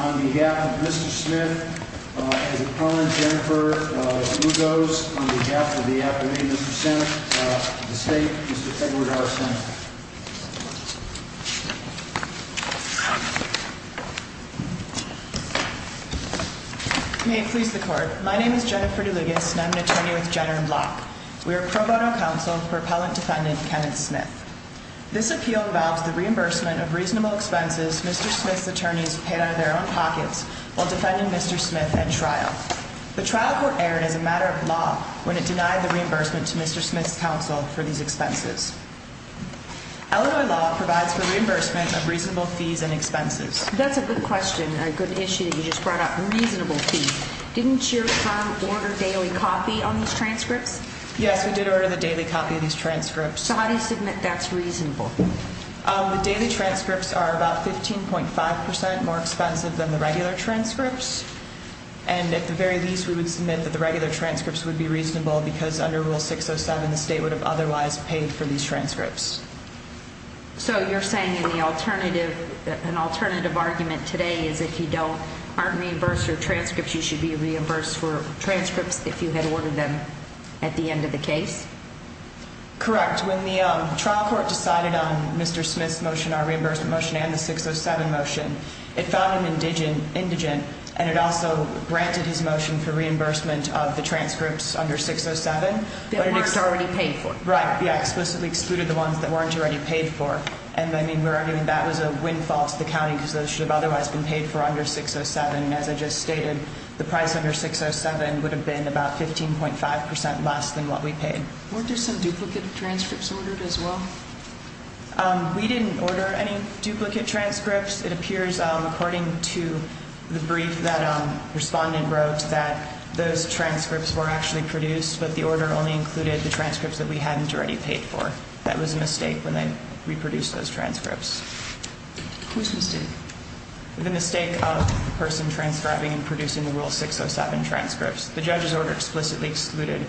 On behalf of Mr. Smith, on behalf of Jennifer DeLugos, on behalf of the Appalachian State, Mr. Edward R. Smith. May it please the court, my name is Jennifer DeLugos and I'm an attorney with Jenner & Block. We are a pro bono counsel for appellant defendant Kenneth Smith. This appeal involves the reimbursement of reasonable expenses Mr. Smith's attorneys paid out of their own pockets while defending Mr. Smith at trial. The trial court erred as a matter of law when it denied the reimbursement to Mr. Smith's counsel for these expenses. Illinois law provides for reimbursement of reasonable fees and expenses. That's a good question, a good issue that you just brought up, reasonable fees. Didn't your firm order daily copy on these transcripts? Yes, we did order the daily copy of these transcripts. So how do you submit that's reasonable? The daily transcripts are about 15.5% more expensive than the regular transcripts. And at the very least we would submit that the regular transcripts would be reasonable because under Rule 607 the state would have otherwise paid for these transcripts. So you're saying in the alternative, an alternative argument today is if you don't, aren't reimbursed for transcripts you should be reimbursed for transcripts if you had ordered them at the end of the case? Correct. When the trial court decided on Mr. Smith's motion, our reimbursement motion and the 607 motion, it found him indigent and it also granted his motion for reimbursement of the transcripts under 607. That weren't already paid for. Right, yeah, explicitly excluded the ones that weren't already paid for. And I mean we're arguing that was a windfall to the county because those should have otherwise been paid for under 607. And as I just stated, the price under 607 would have been about 15.5% less than what we paid. Weren't there some duplicate transcripts ordered as well? We didn't order any duplicate transcripts. It appears according to the brief that the respondent wrote that those transcripts were actually produced but the order only included the transcripts that we hadn't already paid for. That was a mistake when they reproduced those transcripts. Whose mistake? The mistake of the person transcribing and producing the Rule 607 transcripts. The judge's order explicitly excluded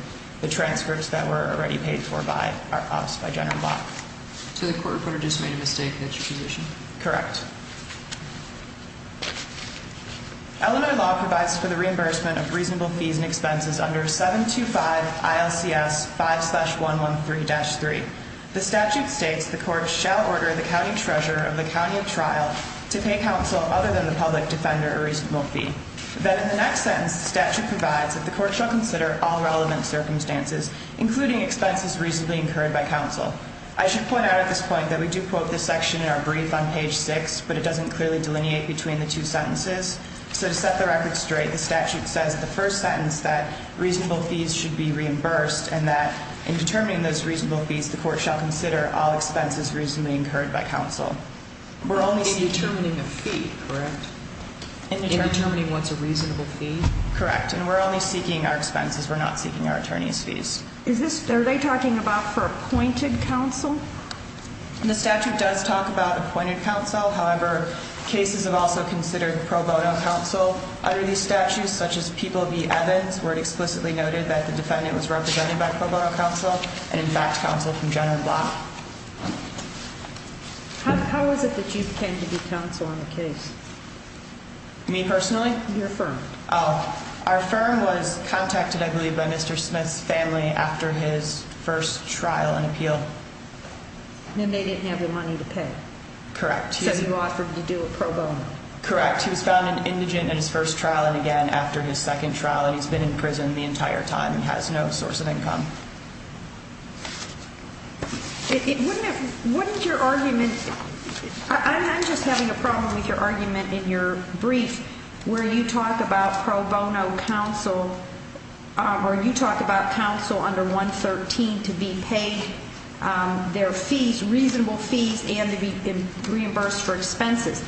the transcripts that were already paid for by us, by General Block. So the court reporter just made a mistake and that's your position? Correct. Illinois law provides for the reimbursement of reasonable fees and expenses under 725 ILCS 5-113-3. The statute states the court shall order the county treasurer of the county of trial to pay counsel other than the public defender a reasonable fee. Then in the next sentence, the statute provides that the court shall consider all relevant circumstances, including expenses reasonably incurred by counsel. I should point out at this point that we do quote this section in our brief on page 6, but it doesn't clearly delineate between the two sentences. So to set the record straight, the statute says in the first sentence that reasonable fees should be reimbursed and that in determining those reasonable fees, the court shall consider all expenses reasonably incurred by counsel. In determining a fee, correct? In determining what's a reasonable fee? Correct. And we're only seeking our expenses. We're not seeking our attorney's fees. Are they talking about for appointed counsel? The statute does talk about appointed counsel. However, cases have also considered pro bono counsel under these statutes, such as People v. Evans, where it explicitly noted that the defendant was represented by pro bono counsel and, in fact, counsel from general block. How is it that you came to be counsel on the case? Me personally? Your firm. Our firm was contacted, I believe, by Mr. Smith's family after his first trial and appeal. And they didn't have the money to pay? Correct. So you offered to do a pro bono? Correct. He was found an indigent in his first trial and again after his second trial, and he's been in prison the entire time and has no source of income. What is your argument? I'm just having a problem with your argument in your brief where you talk about pro bono counsel or you talk about counsel under 113 to be paid their fees, reasonable fees, and to be reimbursed for expenses.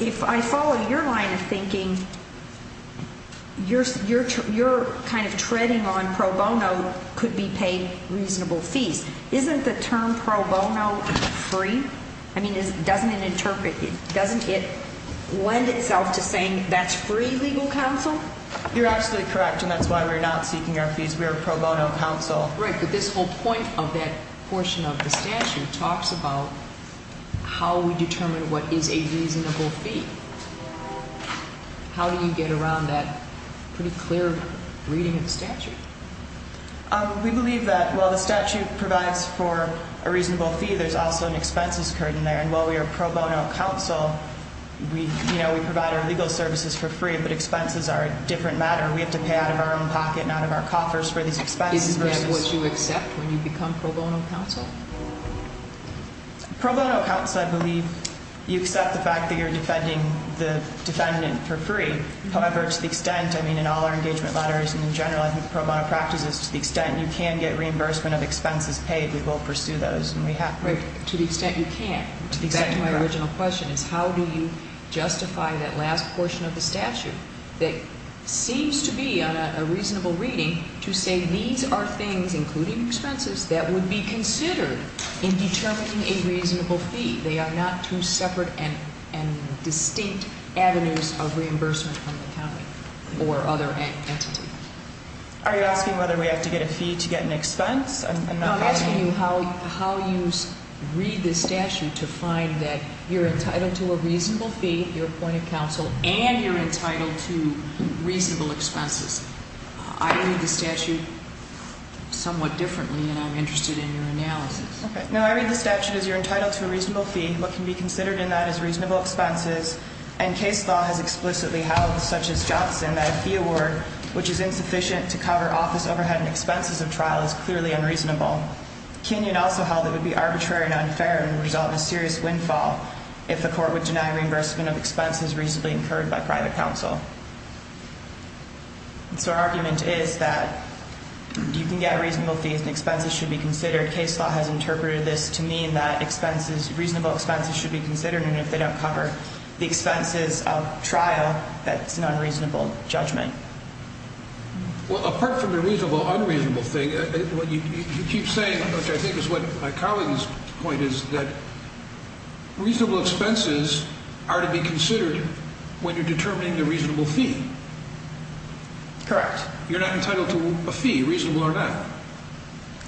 If I follow your line of thinking, you're kind of treading on pro bono could be paid reasonable fees. Isn't the term pro bono free? I mean, doesn't it lend itself to saying that's free legal counsel? You're absolutely correct, and that's why we're not seeking our fees. We are pro bono counsel. Right, but this whole point of that portion of the statute talks about how we determine what is a reasonable fee. How do you get around that pretty clear reading of the statute? We believe that while the statute provides for a reasonable fee, there's also an expenses curtain there. And while we are pro bono counsel, we provide our legal services for free, but expenses are a different matter. We have to pay out of our own pocket and out of our coffers for these expenses. Isn't that what you accept when you become pro bono counsel? Pro bono counsel, I believe you accept the fact that you're defending the defendant for free. However, to the extent, I mean, in all our engagement letters and in general pro bono practices, to the extent you can get reimbursement of expenses paid, we will pursue those. Right, to the extent you can. To the extent of my original question is how do you justify that last portion of the statute that seems to be a reasonable reading to say these are things, including expenses, that would be considered in determining a reasonable fee? They are not two separate and distinct avenues of reimbursement from the county or other entity. Are you asking whether we have to get a fee to get an expense? I'm asking you how you read this statute to find that you're entitled to a reasonable fee, you're appointed counsel, and you're entitled to reasonable expenses. I read the statute somewhat differently than I'm interested in your analysis. Okay. No, I read the statute as you're entitled to a reasonable fee. What can be considered in that is reasonable expenses. And case law has explicitly held, such as Johnson, that a fee award, which is insufficient to cover office overhead and expenses of trial, is clearly unreasonable. Kenyon also held it would be arbitrary and unfair and would result in a serious windfall if the court would deny reimbursement of expenses reasonably incurred by private counsel. So our argument is that you can get a reasonable fee and expenses should be considered. Your case law has interpreted this to mean that reasonable expenses should be considered, and if they don't cover the expenses of trial, that's an unreasonable judgment. Well, apart from the reasonable-unreasonable thing, what you keep saying, which I think is what Colleen's point is, that reasonable expenses are to be considered when you're determining the reasonable fee. Correct. You're not entitled to a fee, reasonable or not.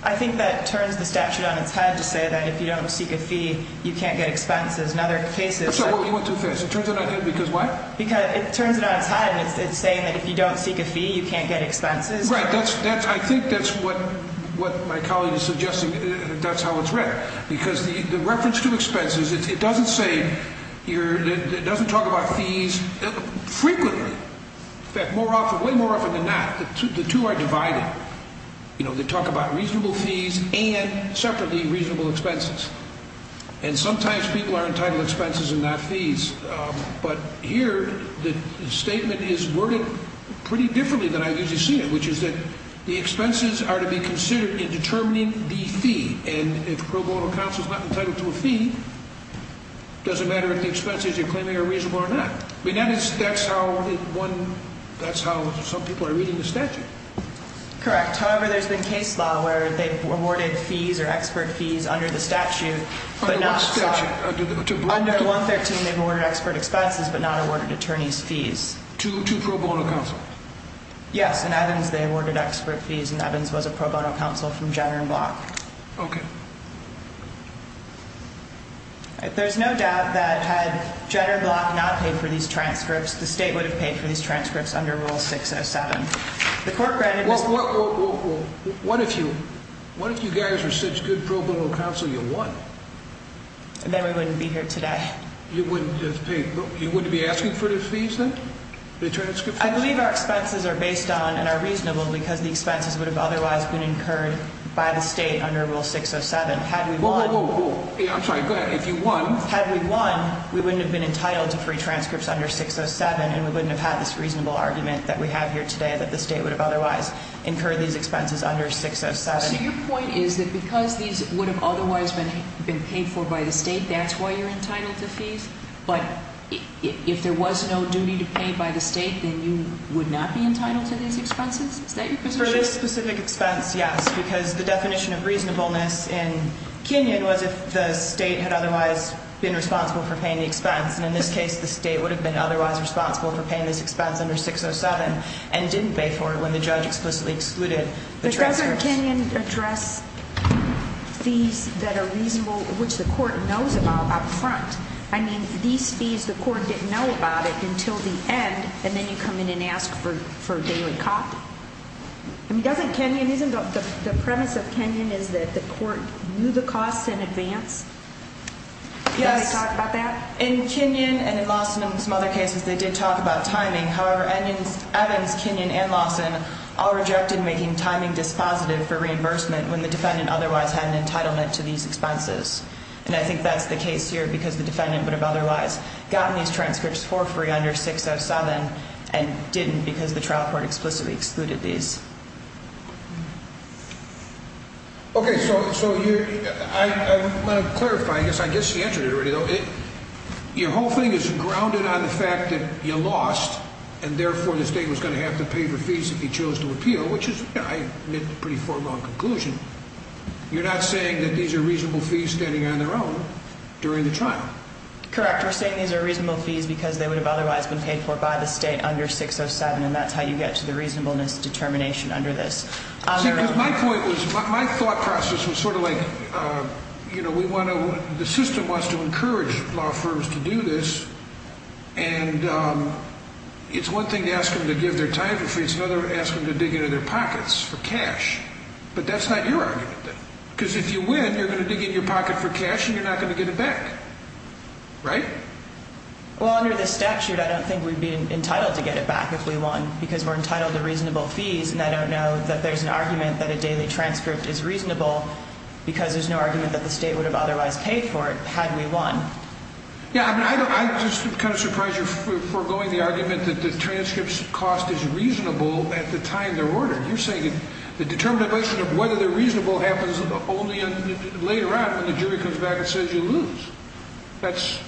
I think that turns the statute on its head to say that if you don't seek a fee, you can't get expenses. In other cases – I'm sorry. You went too fast. It turns it on its head because why? Because it turns it on its head and it's saying that if you don't seek a fee, you can't get expenses. Right. I think that's what my colleague is suggesting. That's how it's read. Because the reference to expenses, it doesn't say – it doesn't talk about fees frequently. In fact, way more often than not, the two are divided. They talk about reasonable fees and separately reasonable expenses. And sometimes people are entitled to expenses and not fees. But here the statement is worded pretty differently than I usually see it, which is that the expenses are to be considered in determining the fee. And if pro bono counsel is not entitled to a fee, it doesn't matter if the expenses you're claiming are reasonable or not. That's how some people are reading the statute. Correct. However, there's been case law where they awarded fees or expert fees under the statute but not – Under what statute? Under 113, they've awarded expert expenses but not awarded attorney's fees. To pro bono counsel? Yes. In Evans, they awarded expert fees and Evans was a pro bono counsel from Jenner and Block. Okay. There's no doubt that had Jenner and Block not paid for these transcripts, the state would have paid for these transcripts under Rule 607. Whoa, whoa, whoa. What if you guys were such good pro bono counsel you won? Then we wouldn't be here today. You wouldn't be asking for the fees then, the transcript fees? I believe our expenses are based on and are reasonable because the expenses would have otherwise been incurred by the state under Rule 607. Whoa, whoa, whoa. I'm sorry. Go ahead. If you won – Had we won, we wouldn't have been entitled to free transcripts under 607 and we wouldn't have had this reasonable argument that we have here today that the state would have otherwise incurred these expenses under 607. So your point is that because these would have otherwise been paid for by the state, that's why you're entitled to fees? But if there was no duty to pay by the state, then you would not be entitled to these expenses? Is that your position? For this specific expense, yes, because the definition of reasonableness in Kenyon was if the state had otherwise been responsible for paying the expense. And in this case, the state would have been otherwise responsible for paying this expense under 607 and didn't pay for it when the judge explicitly excluded the transcripts. But doesn't Kenyon address fees that are reasonable, which the court knows about up front? I mean, these fees, the court didn't know about it until the end, and then you come in and ask for daily cop? I mean, doesn't Kenyon – isn't the premise of Kenyon is that the court knew the costs in advance? Yes. Did the judge talk about that? In Kenyon and in Lawson and some other cases, they did talk about timing. However, Evans, Kenyon, and Lawson all rejected making timing dispositive for reimbursement when the defendant otherwise had an entitlement to these expenses. And I think that's the case here because the defendant would have otherwise gotten these transcripts for free under 607 and didn't because the trial court explicitly excluded these. Okay. So I want to clarify. I guess he answered it already, though. Your whole thing is grounded on the fact that you lost and therefore the state was going to have to pay for fees if he chose to appeal, which is, I admit, a pretty foregone conclusion. You're not saying that these are reasonable fees standing on their own during the trial? Correct. We're saying these are reasonable fees because they would have otherwise been paid for by the state under 607, and that's how you get to the reasonableness determination under this. My thought process was sort of like the system wants to encourage law firms to do this, and it's one thing to ask them to give their time for free. It's another to ask them to dig into their pockets for cash. But that's not your argument, then, because if you win, you're going to dig in your pocket for cash and you're not going to get it back. Right? Well, under the statute, I don't think we'd be entitled to get it back if we won because we're entitled to reasonable fees, and I don't know that there's an argument that a daily transcript is reasonable because there's no argument that the state would have otherwise paid for it had we won. Yeah, I'm just kind of surprised you're foregoing the argument that the transcript's cost is reasonable at the time they're ordered. You're saying the determination of whether they're reasonable happens only later on when the jury comes back and says you lose. Because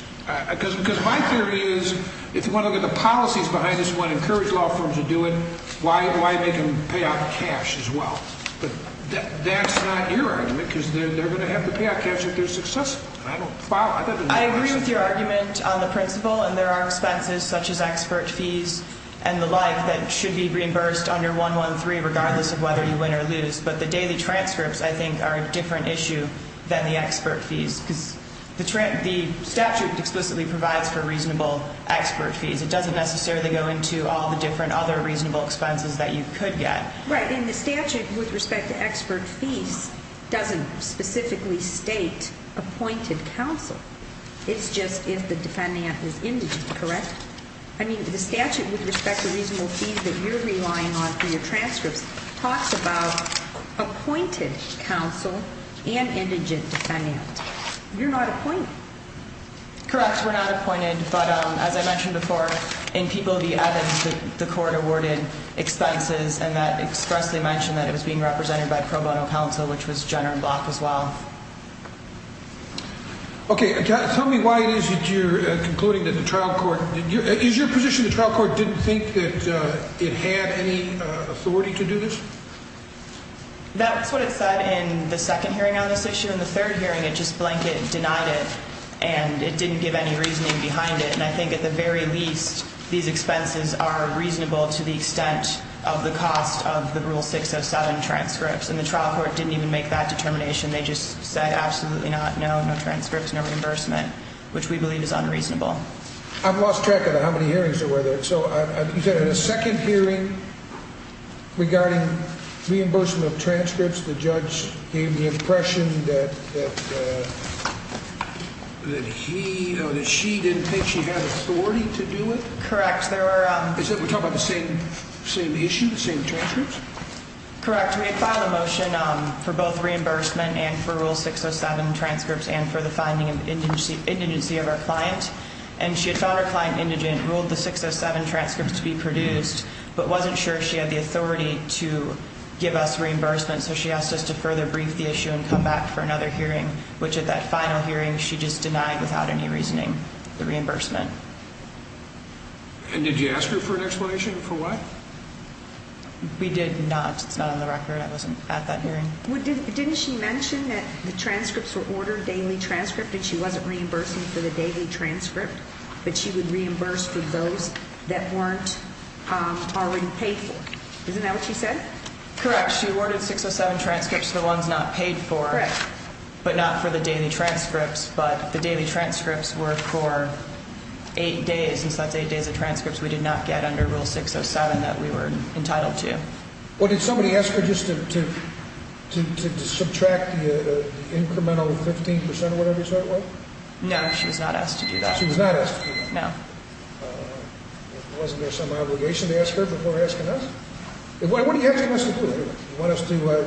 my theory is if you want to look at the policies behind this and want to encourage law firms to do it, why make them pay out cash as well? But that's not your argument because they're going to have to pay out cash if they're successful. I agree with your argument on the principle, and there are expenses such as expert fees and the like that should be reimbursed under 113 regardless of whether you win or lose, but the daily transcripts, I think, are a different issue than the expert fees because the statute explicitly provides for reasonable expert fees. It doesn't necessarily go into all the different other reasonable expenses that you could get. Right, and the statute with respect to expert fees doesn't specifically state appointed counsel. It's just if the defendant is indigent, correct? I mean, the statute with respect to reasonable fees that you're relying on for your transcripts talks about appointed counsel and indigent defendants. You're not appointed. Correct, we're not appointed. But as I mentioned before, in People v. Evans, the court awarded expenses, and that expressly mentioned that it was being represented by pro bono counsel, which was Jenner and Block as well. Okay, tell me why it is that you're concluding that the trial court didn't do it. That's what it said in the second hearing on this issue. In the third hearing, it just blanket denied it, and it didn't give any reasoning behind it. And I think at the very least, these expenses are reasonable to the extent of the cost of the Rule 607 transcripts, and the trial court didn't even make that determination. They just said absolutely not, no, no transcripts, no reimbursement, which we believe is unreasonable. I've lost track of how many hearings there were there. So you said in the second hearing regarding reimbursement of transcripts, the judge gave the impression that she didn't think she had authority to do it? Correct. We're talking about the same issue, the same transcripts? Correct. We had filed a motion for both reimbursement and for Rule 607 transcripts and for the finding of indigency of our client, and she had found our client indigent, ruled the 607 transcripts to be produced, but wasn't sure she had the authority to give us reimbursement, so she asked us to further brief the issue and come back for another hearing, which at that final hearing, she just denied without any reasoning the reimbursement. And did you ask her for an explanation for what? We did not. It's not on the record. I wasn't at that hearing. Didn't she mention that the transcripts were ordered daily transcript and she wasn't reimbursing for the daily transcript, but she would reimburse for those that weren't already paid for? Isn't that what she said? Correct. She ordered 607 transcripts, the ones not paid for, but not for the daily transcripts, but the daily transcripts were for eight days, and since that's eight days of transcripts we did not get under Rule 607 that we were entitled to. Well, did somebody ask her just to subtract the incremental 15% or whatever you said it was? No, she was not asked to do that. She was not asked to do that. No. Wasn't there some obligation to ask her before asking us? What are you asking us to do? You want us to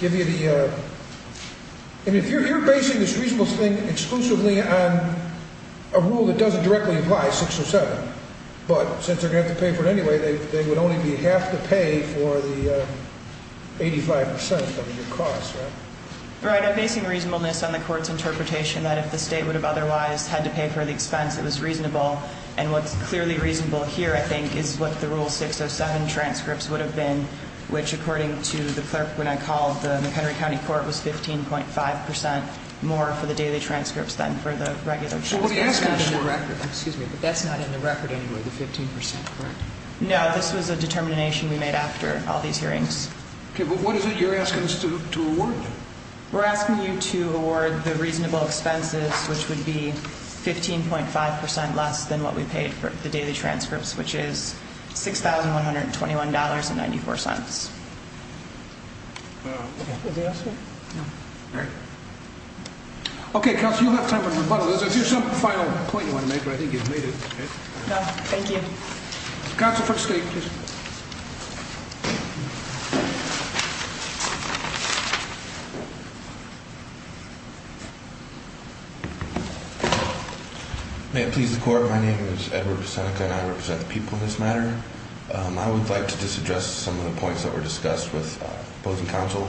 give you the – and if you're basing this reasonable thing exclusively on a rule that doesn't directly apply, 607, but since they're going to have to pay for it anyway, they would only have to pay for the 85% of your cost, right? Right. I'm basing reasonableness on the Court's interpretation that if the State would have otherwise had to pay for the expense, it was reasonable, and what's clearly reasonable here, I think, is what the Rule 607 transcripts would have been, which according to the clerk when I called, the McHenry County Court, was 15.5% more for the daily transcripts than for the regular transcripts. So what are you asking us for? Excuse me, but that's not in the record anyway, the 15%, correct? No, this was a determination we made after all these hearings. Okay, but what is it you're asking us to award? We're asking you to award the reasonable expenses, which would be 15.5% less than what we paid for the daily transcripts, which is $6,121.94. Okay. Okay, Counsel, you'll have time for rebuttal. If there's some final point you want to make, I think you've made it. No, thank you. Counsel for State, please. May it please the Court, my name is Edward Busenica, and I represent the people in this matter. I would like to just address some of the points that were discussed with both the Counsel.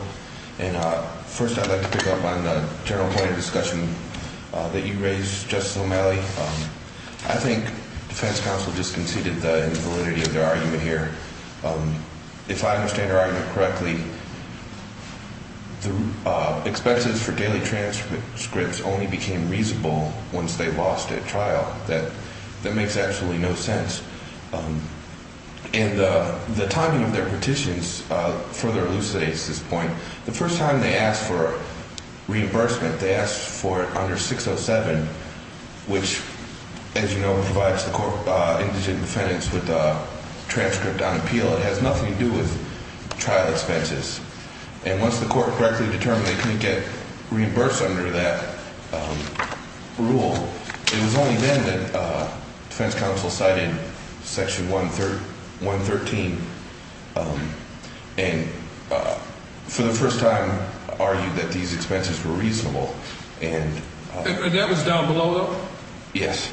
First, I'd like to pick up on the general point of discussion that you raised, Justice O'Malley. I think defense counsel just conceded the invalidity of their argument here. If I understand her argument correctly, the expenses for daily transcripts only became reasonable once they lost at trial. That makes absolutely no sense. And the timing of their petitions further elucidates this point. The first time they asked for reimbursement, they asked for it under 607, which, as you know, provides the court indigent defendants with a transcript on appeal. It has nothing to do with trial expenses. And once the court correctly determined they couldn't get reimbursed under that rule, it was only then that defense counsel cited Section 113 and for the first time argued that these expenses were reasonable. And that was down below? Yes.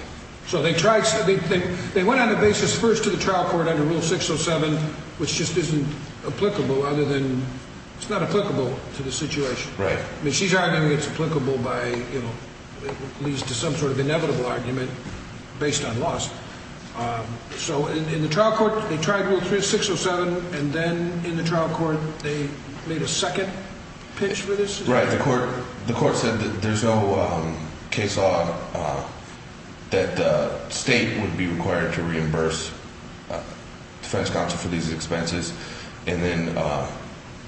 So they went on a basis first to the trial court under Rule 607, which just isn't applicable other than it's not applicable to the situation. Right. I mean, she's arguing it's applicable by, you know, it leads to some sort of inevitable argument based on loss. So in the trial court, they tried Rule 607, and then in the trial court they made a second pitch for this? Right. The court said that there's no case law that the state would be required to reimburse defense counsel for these expenses. And then,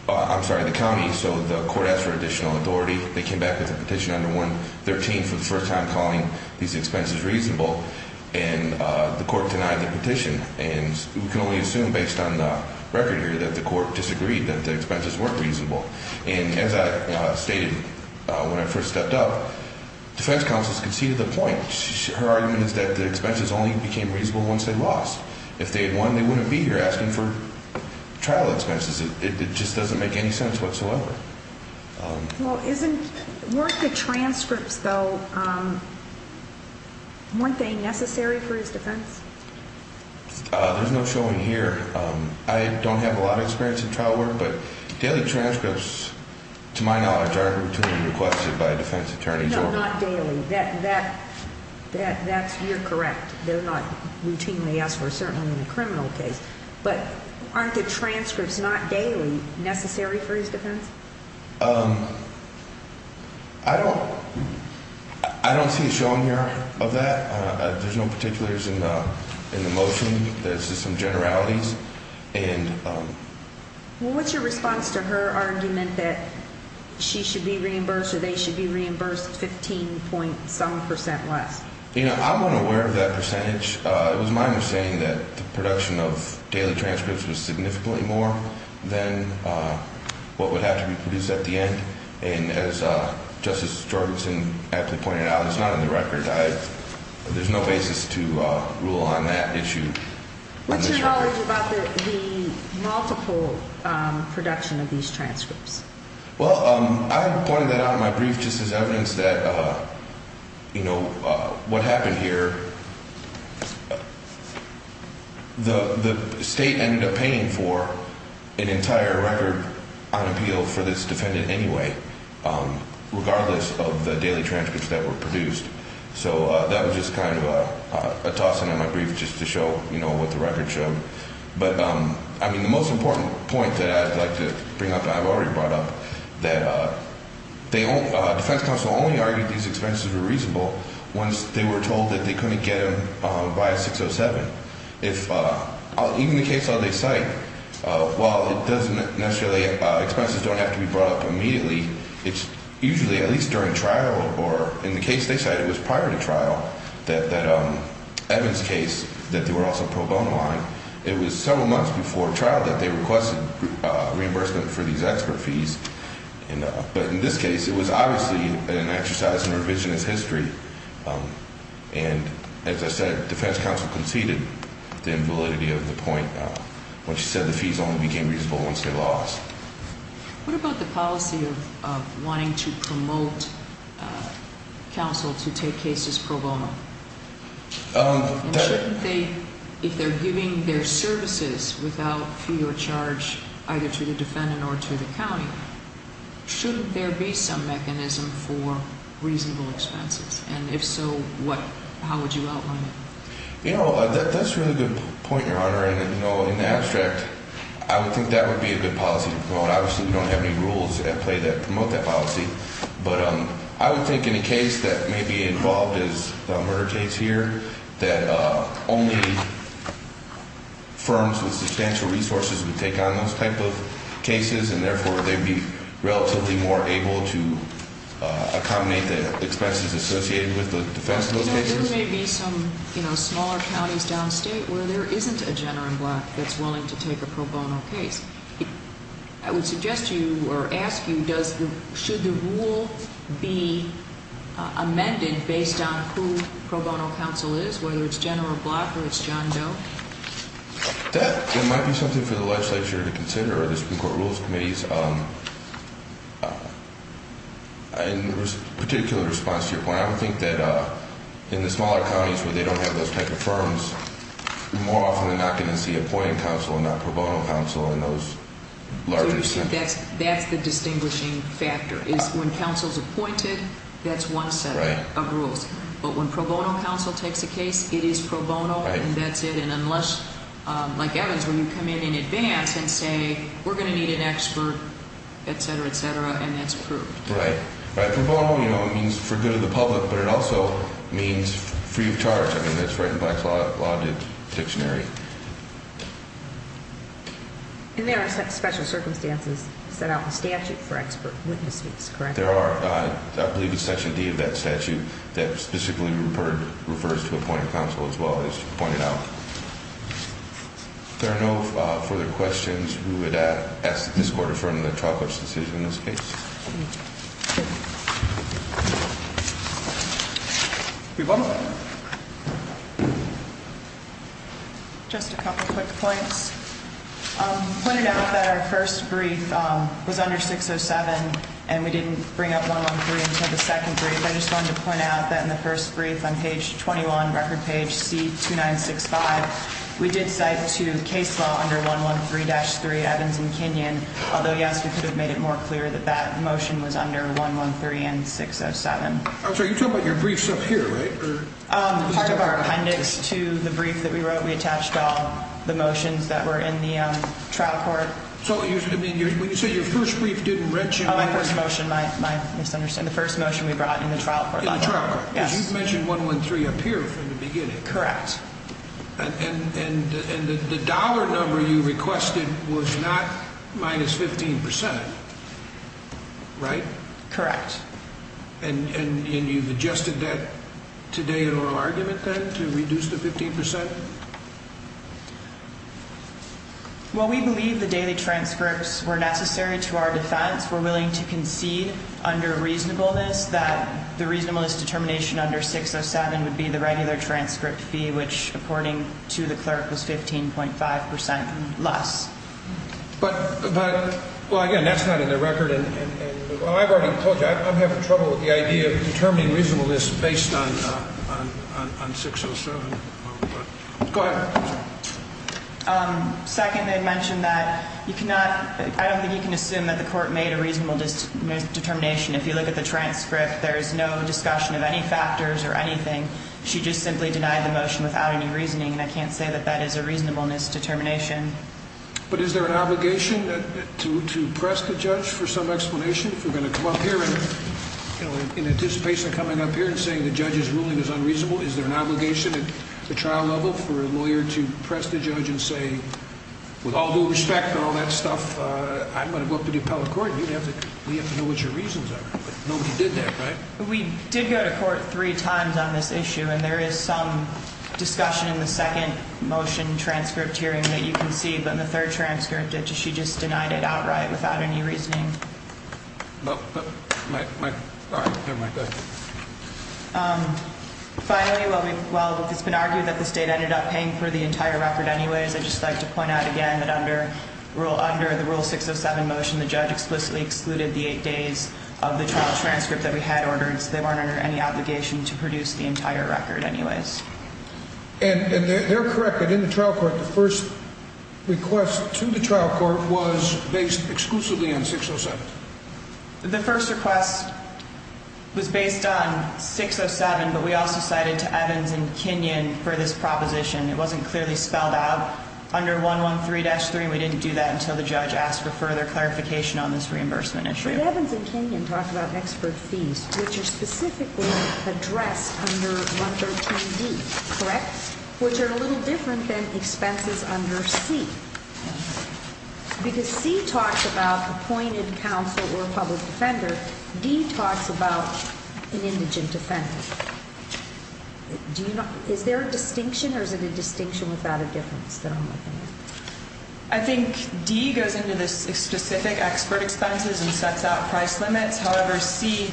I'm sorry, the county. So the court asked for additional authority. They came back with a petition under 113 for the first time calling these expenses reasonable, and the court denied the petition. And we can only assume based on the record here that the court disagreed that the expenses weren't reasonable. And as I stated when I first stepped up, defense counsel has conceded the point. Her argument is that the expenses only became reasonable once they lost. If they had won, they wouldn't be here asking for trial expenses. It just doesn't make any sense whatsoever. Well, weren't the transcripts, though, weren't they necessary for his defense? There's no showing here. I don't have a lot of experience in trial work, but daily transcripts, to my knowledge, aren't routinely requested by defense attorneys. No, not daily. That's, you're correct. They're not routinely asked for, certainly in a criminal case. But aren't the transcripts, not daily, necessary for his defense? I don't see a showing here of that. There's no particulars in the motion. There's just some generalities. Well, what's your response to her argument that she should be reimbursed or they should be reimbursed 15.some percent less? You know, I'm unaware of that percentage. It was my understanding that the production of daily transcripts was significantly more than what would have to be produced at the end. And as Justice Jorgenson aptly pointed out, it's not in the record. There's no basis to rule on that issue. What's your knowledge about the multiple production of these transcripts? Well, I pointed that out in my brief just as evidence that, you know, what happened here, the state ended up paying for an entire record on appeal for this defendant anyway, regardless of the daily transcripts that were produced. So that was just kind of a toss-in in my brief just to show, you know, what the record showed. But, I mean, the most important point that I'd like to bring up that I've already brought up, that defense counsel only argued these expenses were reasonable once they were told that they couldn't get them via 607. Even the case that they cite, while it doesn't necessarily – expenses don't have to be brought up immediately, it's usually at least during trial or in the case they cite, it was prior to trial, that Evans' case that they were also pro bono on, it was several months before trial that they requested reimbursement for these expert fees. But in this case, it was obviously an exercise in revisionist history. And, as I said, defense counsel conceded the invalidity of the point when she said the fees only became reasonable once they're lost. What about the policy of wanting to promote counsel to take cases pro bono? And shouldn't they – if they're giving their services without fee or charge either to the defendant or to the county, shouldn't there be some mechanism for reasonable expenses? And if so, what – how would you outline it? You know, that's a really good point, Your Honor. And, you know, in the abstract, I would think that would be a good policy to promote. Obviously, we don't have any rules at play that promote that policy. But I would think in a case that may be involved as the murder case here, that only firms with substantial resources would take on those type of cases, and therefore they'd be relatively more able to accommodate the expenses associated with the defense in those cases. There may be some, you know, smaller counties downstate where there isn't a general block that's willing to take a pro bono case. I would suggest to you or ask you, does the – should the rule be amended based on who pro bono counsel is, whether it's general block or it's John Doe? That might be something for the legislature to consider or the Supreme Court Rules Committees. In particular response to your point, I would think that in the smaller counties where they don't have those type of firms, more often than not going to see appointing counsel and not pro bono counsel in those larger centers. That's the distinguishing factor is when counsel's appointed, that's one set of rules. But when pro bono counsel takes a case, it is pro bono and that's it. And unless, like Evans, when you come in in advance and say, we're going to need an expert, et cetera, et cetera, and that's approved. Right. Right. Pro bono, you know, it means for good of the public, but it also means free of charge. I mean, that's written by a law dictionary. And there are special circumstances set out in statute for expert witnesses, correct? There are. I believe it's Section D of that statute that specifically refers to appointing counsel as well, as you pointed out. If there are no further questions, we would ask that this court affirm the trial court's decision in this case. Just a couple of quick points. Pointing out that our first brief was under 607 and we didn't bring up 113 until the second brief. I just wanted to point out that in the first brief on page 21, record page C2965, we did cite to case law under 113-3 Evans and Kenyon. Although, yes, we could have made it more clear that that motion was under 113 and 607. I'm sorry, you're talking about your briefs up here, right? Part of our appendix to the brief that we wrote, we attached all the motions that were in the trial court. So when you say your first brief didn't mention... Oh, my first motion, my misunderstanding. The first motion we brought in the trial court. In the trial court. Yes. Because you've mentioned 113 up here from the beginning. Correct. And the dollar number you requested was not minus 15%, right? Correct. And you've adjusted that today in our argument then to reduce the 15%? Well, we believe the daily transcripts were necessary to our defense. We're willing to concede under reasonableness that the reasonableness determination under 607 would be the regular transcript fee, which, according to the clerk, was 15.5% less. But, well, again, that's not in the record. And I've already told you, I'm having trouble with the idea of determining reasonableness based on 607. Go ahead. Second, they mentioned that you cannot, I don't think you can assume that the court made a reasonable determination. If you look at the transcript, there is no discussion of any factors or anything. She just simply denied the motion without any reasoning, and I can't say that that is a reasonableness determination. But is there an obligation to press the judge for some explanation? If we're going to come up here in anticipation of coming up here and saying the judge's ruling is unreasonable, is there an obligation at the trial level for a lawyer to press the judge and say, with all due respect and all that stuff, I'm going to go up to the appellate court? We have to know what your reasons are. Nobody did that, right? We did go to court three times on this issue, and there is some discussion in the second motion transcript hearing that you can see. But in the third transcript, she just denied it outright without any reasoning. Finally, while it's been argued that the state ended up paying for the entire record anyways, I'd just like to point out again that under the Rule 607 motion, the judge explicitly excluded the eight days of the trial transcript that we had ordered, so they weren't under any obligation to produce the entire record anyways. And they're correct that in the trial court, the first request to the trial court was based exclusively on 607. The first request was based on 607, but we also cited to Evans and Kinyon for this proposition. It wasn't clearly spelled out under 113-3. We didn't do that until the judge asked for further clarification on this reimbursement issue. But Evans and Kinyon talked about expert fees, which are specifically addressed under 113D, correct? Which are a little different than expenses under C, because C talks about appointed counsel or a public defender. D talks about an indigent defendant. Is there a distinction, or is it a distinction without a difference that I'm looking at? I think D goes into the specific expert expenses and sets out price limits. However, C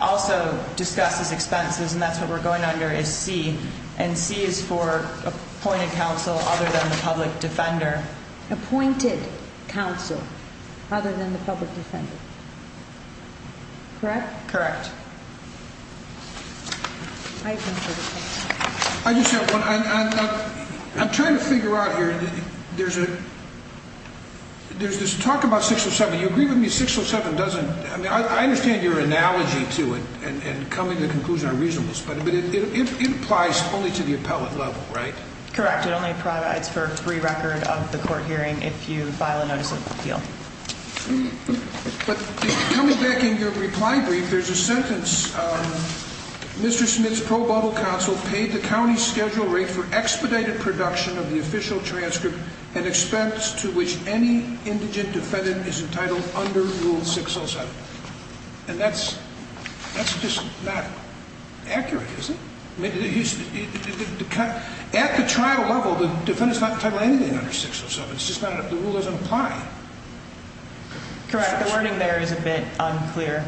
also discusses expenses, and that's what we're going under is C. And C is for appointed counsel other than the public defender. Appointed counsel other than the public defender, correct? Correct. I just have one. I'm trying to figure out here. There's this talk about 607. You agree with me 607 doesn't – I mean, I understand your analogy to it and coming to the conclusion on reasonableness, but it applies only to the appellate level, right? Correct. It only provides for a free record of the court hearing if you file a notice of appeal. But coming back in your reply brief, there's a sentence, Mr. Smith's pro bono counsel paid the county's schedule rate for expedited production of the official transcript and expense to which any indigent defendant is entitled under Rule 607. And that's just not accurate, is it? At the trial level, the defendant's not entitled to anything under 607. It's just not – the rule doesn't apply. Correct. The wording there is a bit unclear.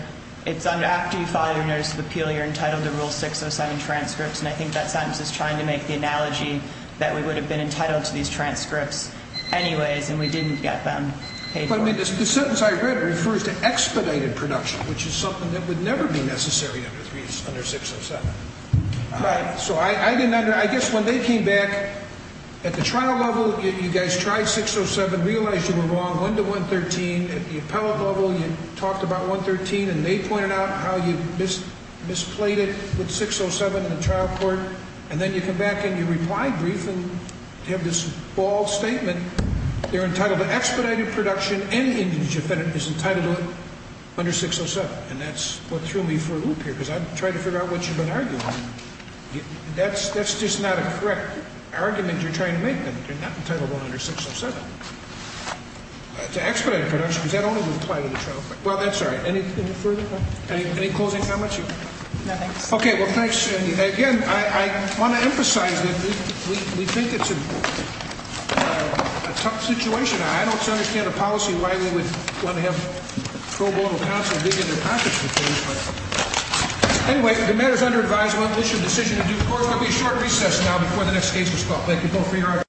It's after you file your notice of appeal, you're entitled to Rule 607 transcripts, and I think that sentence is trying to make the analogy that we would have been entitled to these transcripts anyways, and we didn't get them paid for. But, I mean, the sentence I read refers to expedited production, which is something that would never be necessary under 607. Right. So I guess when they came back at the trial level, you guys tried 607, realized you were wrong, went to 113. At the appellate level, you talked about 113, and they pointed out how you misplayed it with 607 in the trial court. And then you come back in your reply brief and have this bald statement, they're entitled to expedited production, and the indigent defendant is entitled to it under 607. And that's what threw me for a loop here, because I'm trying to figure out what you've been arguing. That's just not a correct argument you're trying to make, that they're not entitled under 607. To expedited production, because that only would apply to the trial court. Well, that's all right. Anything further? Any closing comments? No, thanks. Okay, well, thanks. And, again, I want to emphasize that we think it's a tough situation. I don't understand a policy why we would want to have pro bono counsel dig in their pockets with these. Anyway, the matter is under advisement. We'll issue a decision in due course. There will be a short recess now before the next case is called. Thank you both for your hard work.